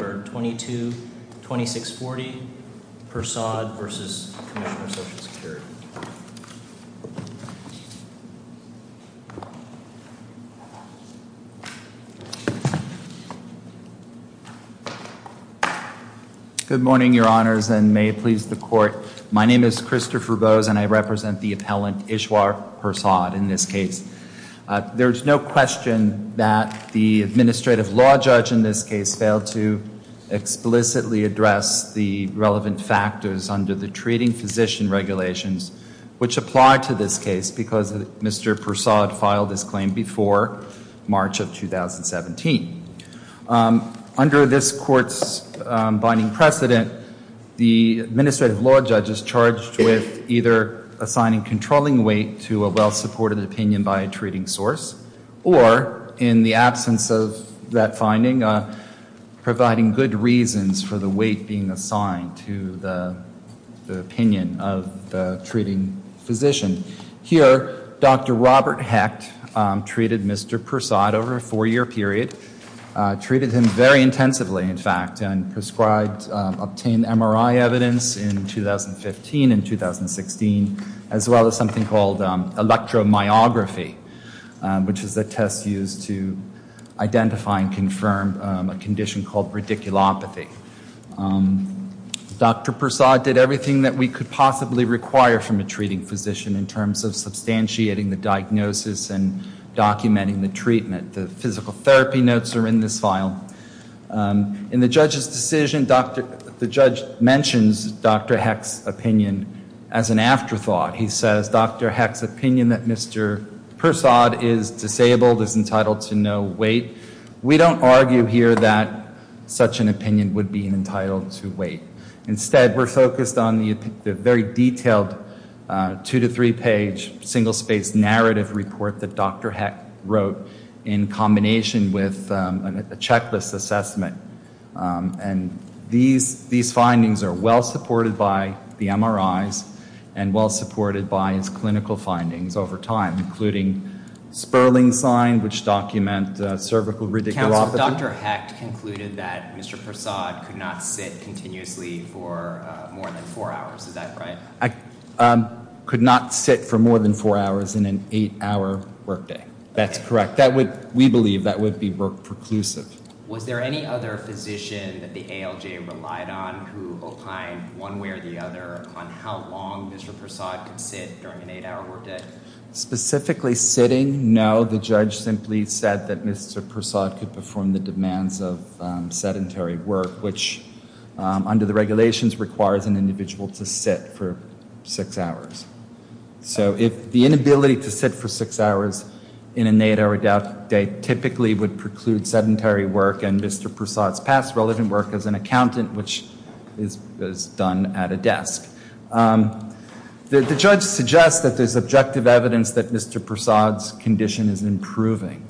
Number 222640, Persaud v. Commissioner of Social Security. Good morning, your honors, and may it please the court. My name is Christopher Bose and I represent the appellant Ishwar Persaud in this case. There's no question that the administrative law judge in this case failed to explicitly address the relevant factors under the treating physician regulations, which apply to this case because Mr. Persaud filed this claim before March of 2017. Under this court's binding precedent, the administrative law judge is charged with either assigning controlling weight to a well-supported opinion by a treating source, or, in the absence of that finding, providing good reasons for the weight being assigned to the opinion of the treating physician. Here, Dr. Robert Hecht treated Mr. Persaud over a four-year period, treated him very intensively, in fact, and obtained MRI evidence in 2015 and 2016, as well as something called electromyography, which is a test used to identify and confirm a condition called radiculopathy. Dr. Persaud did everything that we could possibly require from a treating physician in terms of substantiating the diagnosis and documenting the treatment. The physical therapy notes are in this file. In the judge's decision, the judge mentions Dr. Hecht's opinion as an afterthought. He says, Dr. Hecht's opinion that Mr. Persaud is disabled, is entitled to no weight. We don't argue here that such an opinion would be entitled to weight. Instead, we're focused on the very detailed two-to-three-page, single-spaced narrative report that Dr. Hecht wrote in combination with a checklist assessment. These findings are well-supported by the MRIs and well-supported by his clinical findings over time, including Sperling signs, which document cervical radiculopathy. Counsel, Dr. Hecht concluded that Mr. Persaud could not sit continuously for more than four hours. Is that right? Could not sit for more than four hours in an eight-hour workday. That's correct. We believe that would be work-preclusive. Was there any other physician that the ALJ relied on who opined one way or the other on how long Mr. Persaud could sit during an eight-hour workday? Specifically sitting, no. The judge simply said that Mr. Persaud could perform the demands of sedentary work, which under the regulations requires an individual to sit for six hours. So the inability to sit for six hours in an eight-hour workday typically would preclude sedentary work and Mr. Persaud's past relevant work as an accountant, which is done at a desk. The judge suggests that there's objective evidence that Mr. Persaud's condition is improving.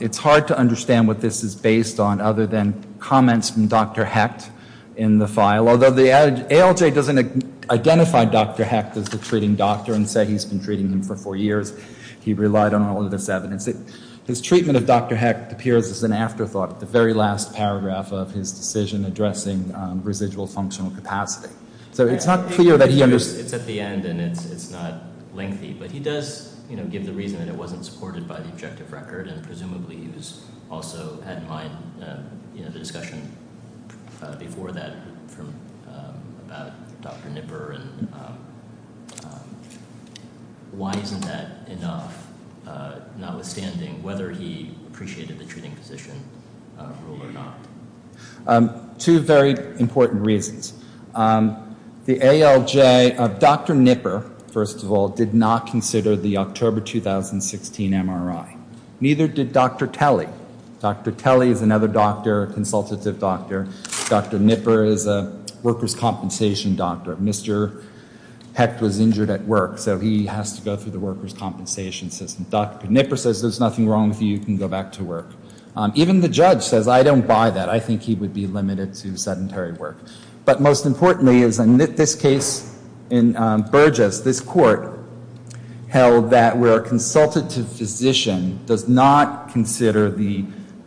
It's hard to understand what this is based on other than comments from Dr. Hecht in the file, although the ALJ doesn't identify Dr. Hecht as the treating doctor and say he's been treating him for four years. He relied on all of this evidence. His treatment of Dr. Hecht appears as an afterthought at the very last paragraph of his decision addressing residual functional capacity. So it's not clear that he understood. It's at the end and it's not lengthy, but he does give the reason that it wasn't supported by the objective record, and presumably he also had in mind the discussion before that about Dr. Nipper and why isn't that enough, notwithstanding whether he appreciated the treating physician rule or not? Two very important reasons. The ALJ of Dr. Nipper, first of all, did not consider the October 2016 MRI. Neither did Dr. Telly. Dr. Telly is another doctor, a consultative doctor. Dr. Nipper is a workers' compensation doctor. Mr. Hecht was injured at work, so he has to go through the workers' compensation system. Dr. Nipper says there's nothing wrong with you, you can go back to work. Even the judge says, I don't buy that. I think he would be limited to sedentary work. But most importantly is in this case in Burgess, this court held that where a consultative physician does not consider the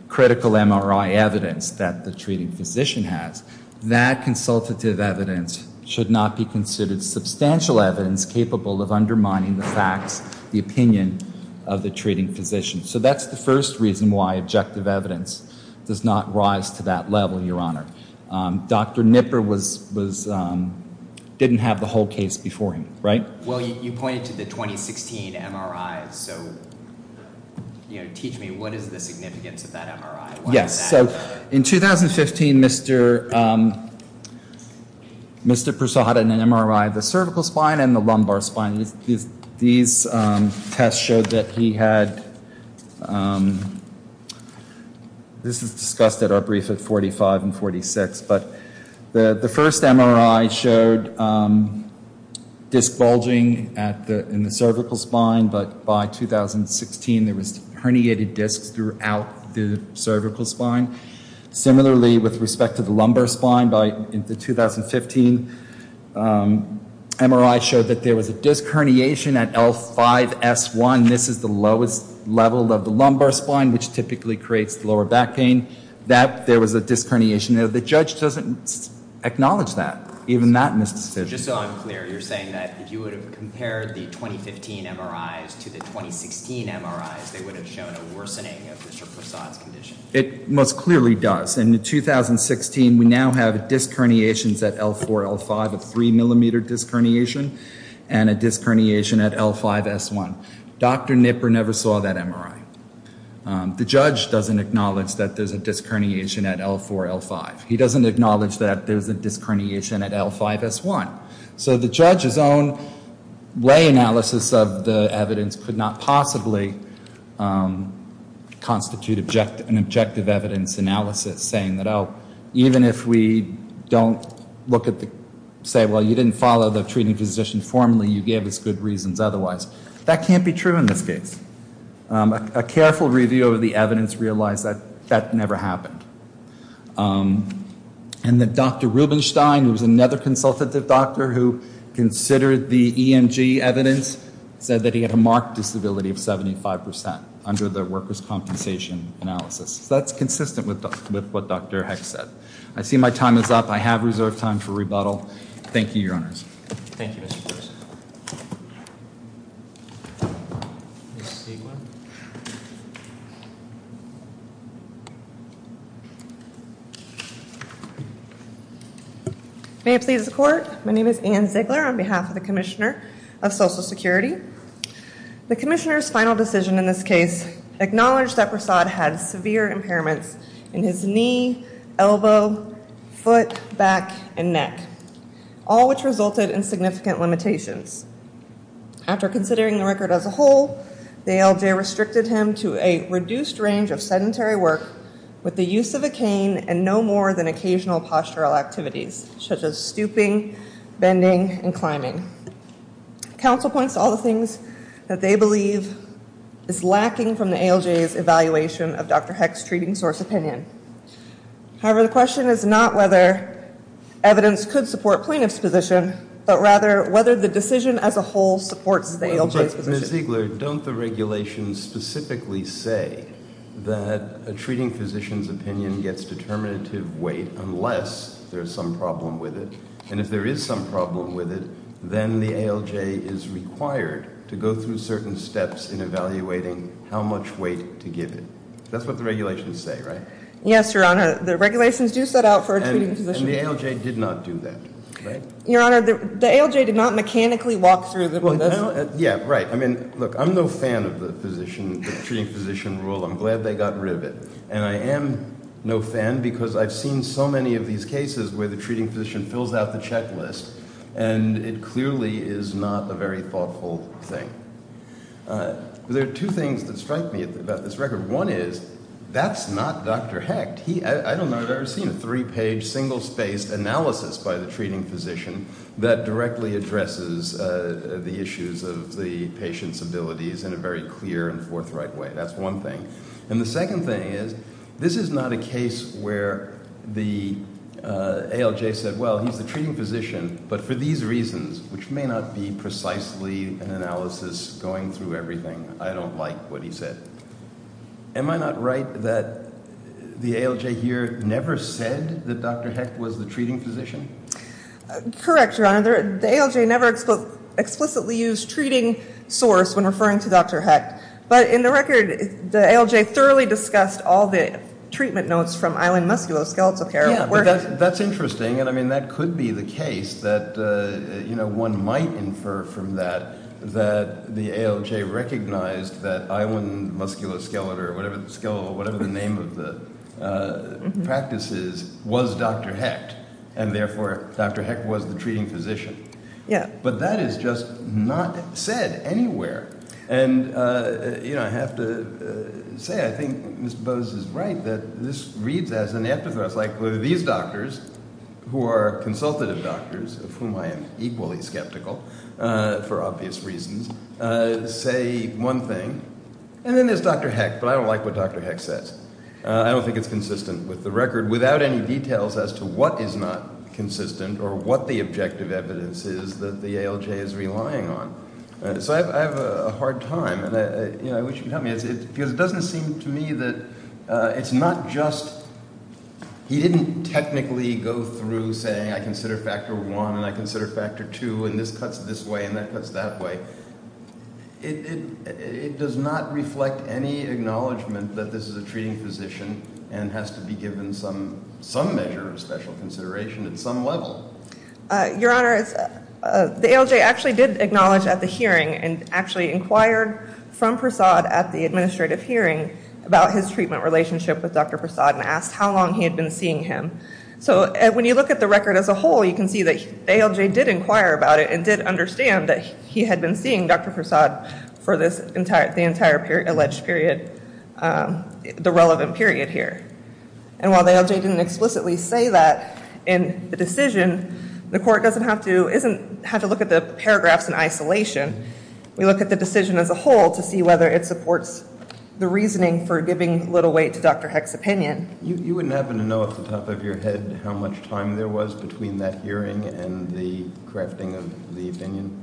critical MRI evidence that the treating physician has, that consultative evidence should not be considered substantial evidence capable of undermining the facts, the opinion of the treating physician. So that's the first reason why objective evidence does not rise to that level, Your Honor. Dr. Nipper didn't have the whole case before him, right? Well, you pointed to the 2016 MRI, so teach me, what is the significance of that MRI? Yes, so in 2015, Mr. Persaud had an MRI of the cervical spine and the lumbar spine. These tests showed that he had, this is discussed at our brief at 45 and 46, but the first MRI showed disc bulging in the cervical spine, but by 2016 there was herniated discs throughout the cervical spine. Similarly, with respect to the lumbar spine, in the 2015 MRI showed that there was a disc herniation at L5S1. This is the lowest level of the lumbar spine, which typically creates the lower back pain. There was a disc herniation. The judge doesn't acknowledge that, even that misdecision. Just so I'm clear, you're saying that if you would have compared the 2015 MRIs to the 2016 MRIs, they would have shown a worsening of Mr. Persaud's condition? It most clearly does. In the 2016, we now have disc herniations at L4, L5, a three millimeter disc herniation, and a disc herniation at L5S1. Dr. Knipper never saw that MRI. The judge doesn't acknowledge that there's a disc herniation at L4, L5. He doesn't acknowledge that there's a disc herniation at L5S1. So the judge's own way analysis of the evidence could not possibly constitute an objective evidence analysis, saying that, oh, even if we don't say, well, you didn't follow the treating physician formally, you gave us good reasons otherwise. That can't be true in this case. A careful review of the evidence realized that that never happened. And that Dr. Rubenstein, who was another consultative doctor who considered the EMG evidence, said that he had a marked disability of 75% under the workers' compensation analysis. That's consistent with what Dr. Hecht said. I see my time is up. I have reserved time for rebuttal. Thank you, Your Honors. Thank you, Mr. Persaud. Ms. Stegman? May it please the Court. My name is Ann Ziegler on behalf of the Commissioner of Social Security. The Commissioner's final decision in this case acknowledged that Persaud had severe impairments in his knee, elbow, foot, back, and neck, all which resulted in significant limitations. After considering the record as a whole, the ALJ restricted him to a reduced range of sedentary work with the use of a cane and no more than occasional postural activities, such as stooping, bending, and climbing. Counsel points to all the things that they believe is lacking from the ALJ's evaluation of Dr. Hecht's treating source opinion. However, the question is not whether evidence could support plaintiff's position, but rather whether the decision as a whole supports the ALJ's position. Ms. Ziegler, don't the regulations specifically say that a treating physician's opinion gets determinative weight unless there's some problem with it, and if there is some problem with it, then the ALJ is required to go through certain steps in evaluating how much weight to give it. That's what the regulations say, right? Yes, Your Honor. The regulations do set out for a treating physician. And the ALJ did not do that, right? Your Honor, the ALJ did not mechanically walk through this. Well, yeah, right. I mean, look, I'm no fan of the treating physician rule. I'm glad they got rid of it. And I am no fan because I've seen so many of these cases where the treating physician fills out the checklist, and it clearly is not a very thoughtful thing. There are two things that strike me about this record. One is that's not Dr. Hecht. I don't know if I've ever seen a three-page, single-spaced analysis by the treating physician that directly addresses the issues of the patient's abilities in a very clear and forthright way. That's one thing. And the second thing is this is not a case where the ALJ said, well, he's the treating physician, but for these reasons, which may not be precisely an analysis going through everything, I don't like what he said. Am I not right that the ALJ here never said that Dr. Hecht was the treating physician? Correct, Your Honor. The ALJ never explicitly used treating source when referring to Dr. Hecht. But in the record, the ALJ thoroughly discussed all the treatment notes from island musculoskeletal care. That's interesting, and, I mean, that could be the case that, you know, one might infer from that that the ALJ recognized that island musculoskeletal, or whatever the name of the practice is, was Dr. Hecht, and therefore Dr. Hecht was the treating physician. Yeah. But that is just not said anywhere. And, you know, I have to say I think Ms. Bose is right that this reads as an antithesis. Like these doctors, who are consultative doctors, of whom I am equally skeptical for obvious reasons, say one thing. And then there's Dr. Hecht, but I don't like what Dr. Hecht says. I don't think it's consistent with the record without any details as to what is not consistent or what the objective evidence is that the ALJ is relying on. So I have a hard time, and, you know, I wish you could help me. Because it doesn't seem to me that it's not just he didn't technically go through saying I consider factor one and I consider factor two and this cuts this way and that cuts that way. It does not reflect any acknowledgment that this is a treating physician and has to be given some measure of special consideration at some level. Your Honor, the ALJ actually did acknowledge at the hearing and actually inquired from Prasad at the administrative hearing about his treatment relationship with Dr. Prasad and asked how long he had been seeing him. So when you look at the record as a whole, you can see that the ALJ did inquire about it and did understand that he had been seeing Dr. Prasad for the entire alleged period, the relevant period here. And while the ALJ didn't explicitly say that in the decision, the court doesn't have to look at the paragraphs in isolation. We look at the decision as a whole to see whether it supports the reasoning for giving little weight to Dr. Hecht's opinion. You wouldn't happen to know off the top of your head how much time there was between that hearing and the crafting of the opinion?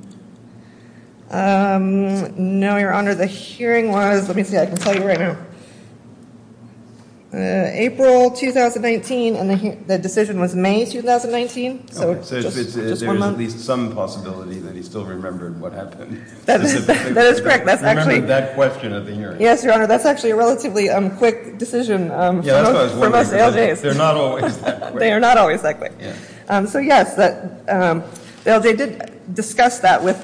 No, Your Honor. The hearing was, let me see, I can tell you right now. April 2019 and the decision was May 2019, so just one month. So there's at least some possibility that he still remembered what happened. That is correct. That's actually. Remembered that question at the hearing. Yes, Your Honor, that's actually a relatively quick decision for most ALJs. They're not always that quick. They are not always that quick. So, yes, the ALJ did discuss that with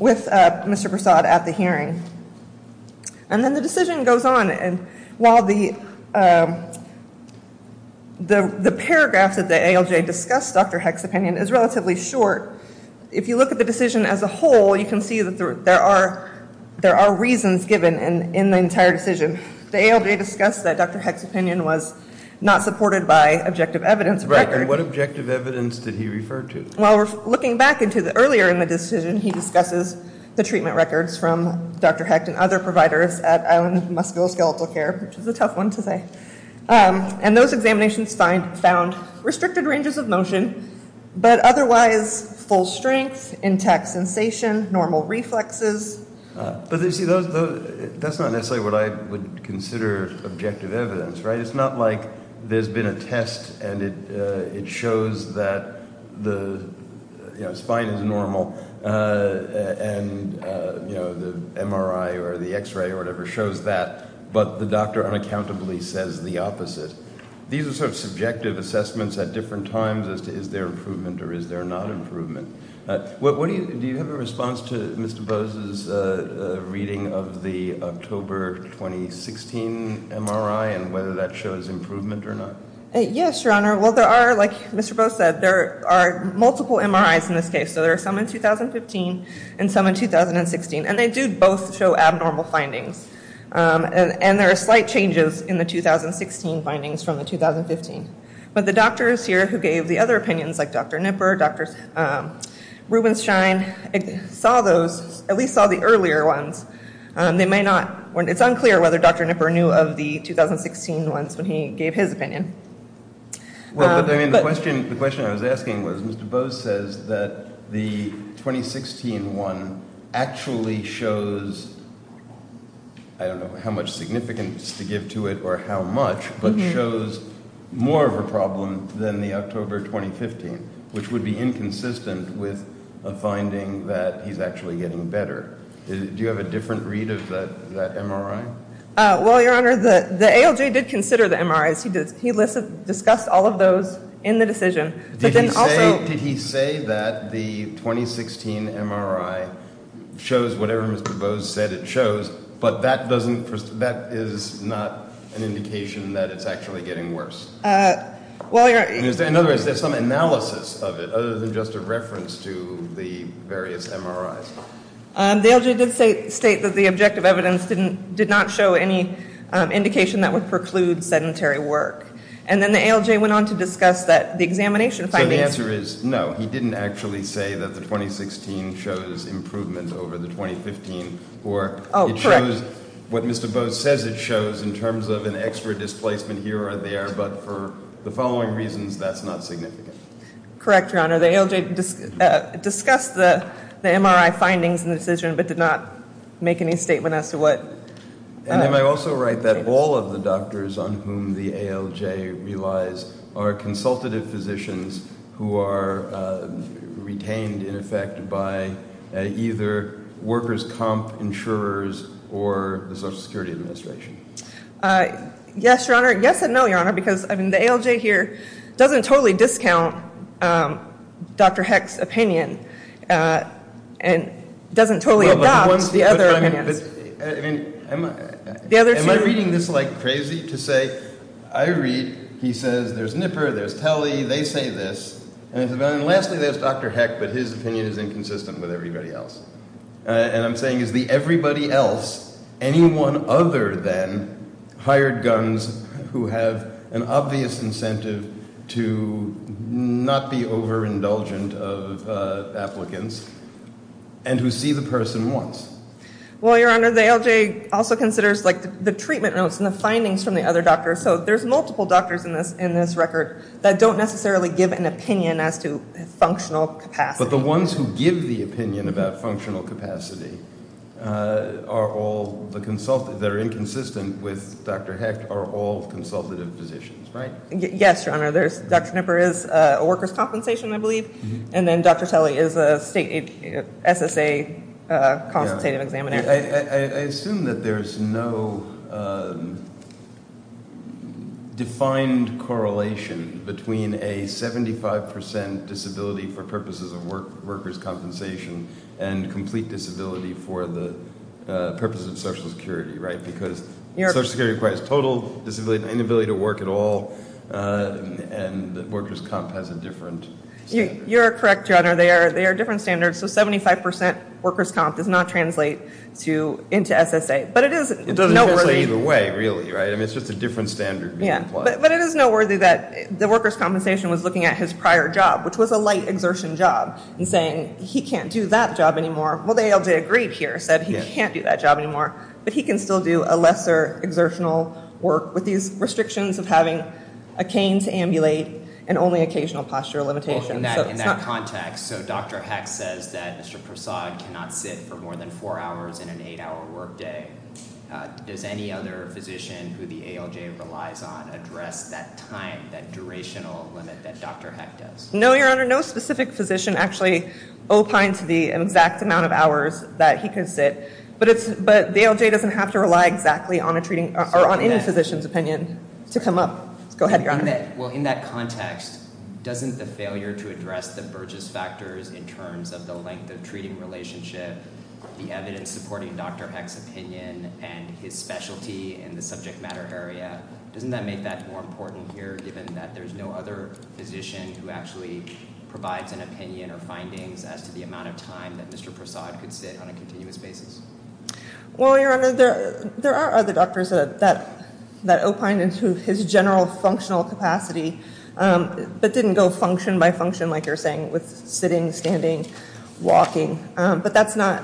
Mr. Prasad at the hearing. And then the decision goes on. And while the paragraphs that the ALJ discussed Dr. Hecht's opinion is relatively short, if you look at the decision as a whole, you can see that there are reasons given in the entire decision. The ALJ discussed that Dr. Hecht's opinion was not supported by objective evidence. Right, and what objective evidence did he refer to? Well, looking back into earlier in the decision, he discusses the treatment records from Dr. Hecht and other providers at Island Musculoskeletal Care, which is a tough one to say. And those examinations found restricted ranges of motion, but otherwise full strength, intact sensation, normal reflexes. But, you see, that's not necessarily what I would consider objective evidence, right? It's not like there's been a test and it shows that the spine is normal and the MRI or the X-ray or whatever shows that, but the doctor unaccountably says the opposite. These are sort of subjective assessments at different times as to is there improvement or is there not improvement. Do you have a response to Mr. Bose's reading of the October 2016 MRI and whether that shows improvement or not? Yes, Your Honor. Well, there are, like Mr. Bose said, there are multiple MRIs in this case. So there are some in 2015 and some in 2016. And they do both show abnormal findings. And there are slight changes in the 2016 findings from the 2015. But the doctors here who gave the other opinions, like Dr. Nipper, Dr. Rubenshine, saw those, at least saw the earlier ones. They may not, it's unclear whether Dr. Nipper knew of the 2016 ones when he gave his opinion. Well, the question I was asking was Mr. Bose says that the 2016 one actually shows, I don't know how much significance to give to it or how much, but shows more of a problem than the October 2015, which would be inconsistent with a finding that he's actually getting better. Do you have a different read of that MRI? Well, Your Honor, the ALJ did consider the MRIs. He discussed all of those in the decision. Did he say that the 2016 MRI shows whatever Mr. Bose said it shows, but that is not an indication that it's actually getting worse? In other words, there's some analysis of it other than just a reference to the various MRIs. The ALJ did state that the objective evidence did not show any indication that would preclude sedentary work. And then the ALJ went on to discuss that the examination findings. So the answer is no, he didn't actually say that the 2016 shows improvement over the 2015, or it shows what Mr. Bose says it shows in terms of an extra displacement here or there, but for the following reasons, that's not significant. Correct, Your Honor. The ALJ discussed the MRI findings in the decision, but did not make any statement as to what. And then I also write that all of the doctors on whom the ALJ relies are consultative physicians who are retained, in effect, by either workers' comp insurers or the Social Security Administration. Yes, Your Honor. Yes and no, Your Honor, because the ALJ here doesn't totally discount Dr. Heck's opinion and doesn't totally adopt the other opinions. Am I reading this like crazy to say I read, he says there's Nipper, there's Telly, they say this. And lastly, there's Dr. Heck, but his opinion is inconsistent with everybody else. And I'm saying, is the everybody else anyone other than hired guns who have an obvious incentive to not be overindulgent of applicants and who see the person once? Well, Your Honor, the ALJ also considers the treatment notes and the findings from the other doctors. So there's multiple doctors in this record that don't necessarily give an opinion as to functional capacity. But the ones who give the opinion about functional capacity are all the consultants that are inconsistent with Dr. Heck are all consultative physicians, right? Yes, Your Honor. Dr. Nipper is a workers' compensation, I believe. And then Dr. Telly is a state SSA consultative examiner. I assume that there's no defined correlation between a 75% disability for purposes of workers' compensation and complete disability for the purpose of Social Security, right? Because Social Security requires total disability and inability to work at all, and workers' comp has a different standard. They are different standards. So 75% workers' comp does not translate into SSA. But it is noteworthy. It doesn't translate either way, really, right? I mean, it's just a different standard being applied. But it is noteworthy that the workers' compensation was looking at his prior job, which was a light exertion job, and saying, he can't do that job anymore. Well, the ALJ agreed here, said he can't do that job anymore. But he can still do a lesser exertional work with these restrictions of having a cane to ambulate and only occasional postural limitations. In that context, so Dr. Hecht says that Mr. Prasad cannot sit for more than four hours in an eight-hour workday. Does any other physician who the ALJ relies on address that time, that durational limit that Dr. Hecht does? No, Your Honor. No specific physician actually opines the exact amount of hours that he can sit. But the ALJ doesn't have to rely exactly on any physician's opinion to come up. Go ahead, Your Honor. Well, in that context, doesn't the failure to address the Burgess factors in terms of the length of treating relationship, the evidence supporting Dr. Hecht's opinion, and his specialty in the subject matter area, doesn't that make that more important here, given that there's no other physician who actually provides an opinion or findings as to the amount of time that Mr. Prasad could sit on a continuous basis? Well, Your Honor, there are other doctors that opine into his general functional capacity but didn't go function by function, like you're saying, with sitting, standing, walking. But that's not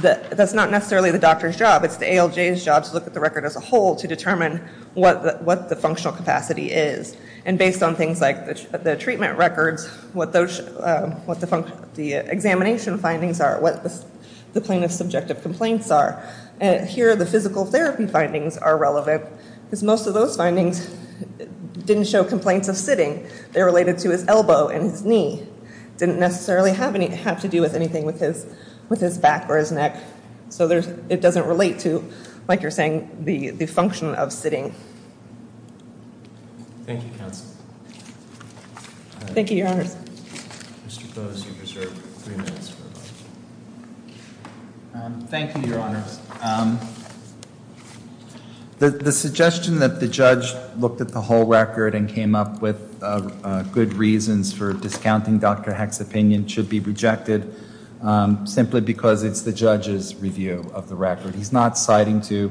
necessarily the doctor's job. It's the ALJ's job to look at the record as a whole to determine what the functional capacity is. And based on things like the treatment records, what the examination findings are, what the plaintiff's subjective complaints are. Here, the physical therapy findings are relevant because most of those findings didn't show complaints of sitting. They related to his elbow and his knee. It didn't necessarily have to do with anything with his back or his neck. So it doesn't relate to, like you're saying, the function of sitting. Thank you, counsel. Thank you, Your Honor. Mr. Boese, you're reserved three minutes for a question. Thank you, Your Honors. The suggestion that the judge looked at the whole record and came up with good reasons for discounting Dr. Hecht's opinion should be rejected simply because it's the judge's review of the record. He's not citing to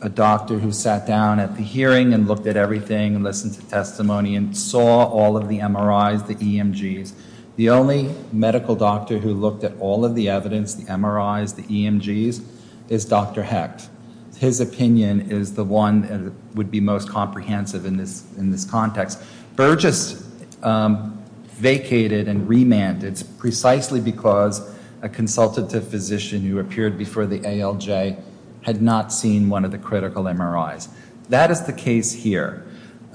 a doctor who sat down at the hearing and looked at everything and listened to testimony and saw all of the MRIs, the EMGs. The only medical doctor who looked at all of the evidence, the MRIs, the EMGs, is Dr. Hecht. His opinion is the one that would be most comprehensive in this context. Burgess vacated and remanded precisely because a consultative physician who appeared before the ALJ had not seen one of the critical MRIs. That is the case here.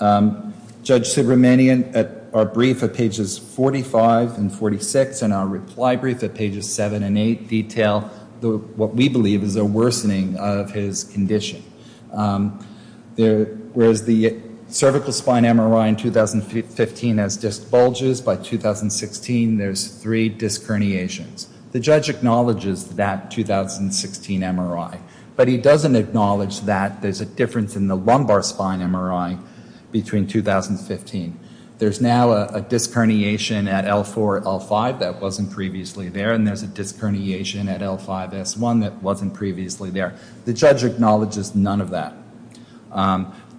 Judge Subramanian, at our brief at pages 45 and 46, and our reply brief at pages 7 and 8, detail what we believe is a worsening of his condition. Whereas the cervical spine MRI in 2015 has disc bulges, by 2016 there's three disc herniations. The judge acknowledges that 2016 MRI, but he doesn't acknowledge that there's a difference in the lumbar spine MRI between 2015. There's now a disc herniation at L4, L5 that wasn't previously there, and there's a disc herniation at L5, S1 that wasn't previously there. The judge acknowledges none of that.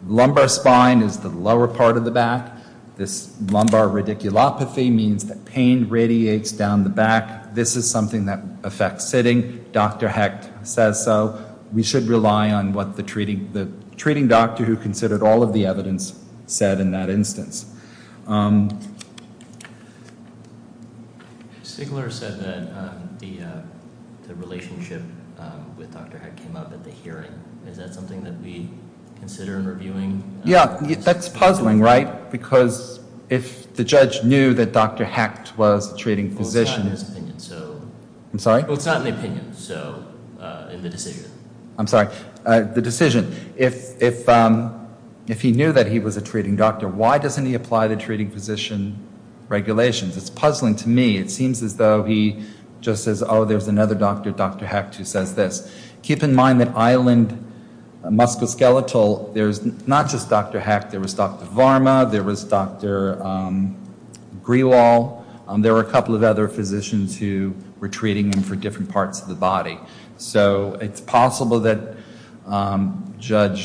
Lumbar spine is the lower part of the back. This lumbar radiculopathy means that pain radiates down the back. This is something that affects sitting. Dr. Hecht says so. We should rely on what the treating doctor who considered all of the evidence said in that instance. Stigler said that the relationship with Dr. Hecht came up at the hearing. Is that something that we consider in reviewing? Yeah, that's puzzling, right? Because if the judge knew that Dr. Hecht was the treating physician... I'm sorry? I'm sorry. The decision. If he knew that he was a treating doctor, why doesn't he apply the treating physician regulations? It's puzzling to me. It seems as though he just says, oh, there's another doctor, Dr. Hecht, who says this. Keep in mind that island musculoskeletal, there's not just Dr. Hecht. There was Dr. Varma. There was Dr. Grewal. So it's possible that Judge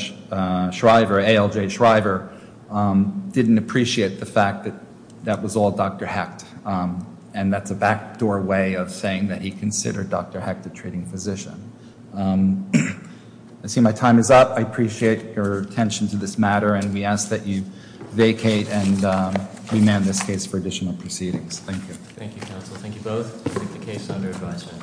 Shriver, ALJ Shriver, didn't appreciate the fact that that was all Dr. Hecht. And that's a backdoor way of saying that he considered Dr. Hecht a treating physician. I see my time is up. I appreciate your attention to this matter. And we ask that you vacate and remand this case for additional proceedings. Thank you. Thank you, counsel. Thank you both. I think the case is under advisement.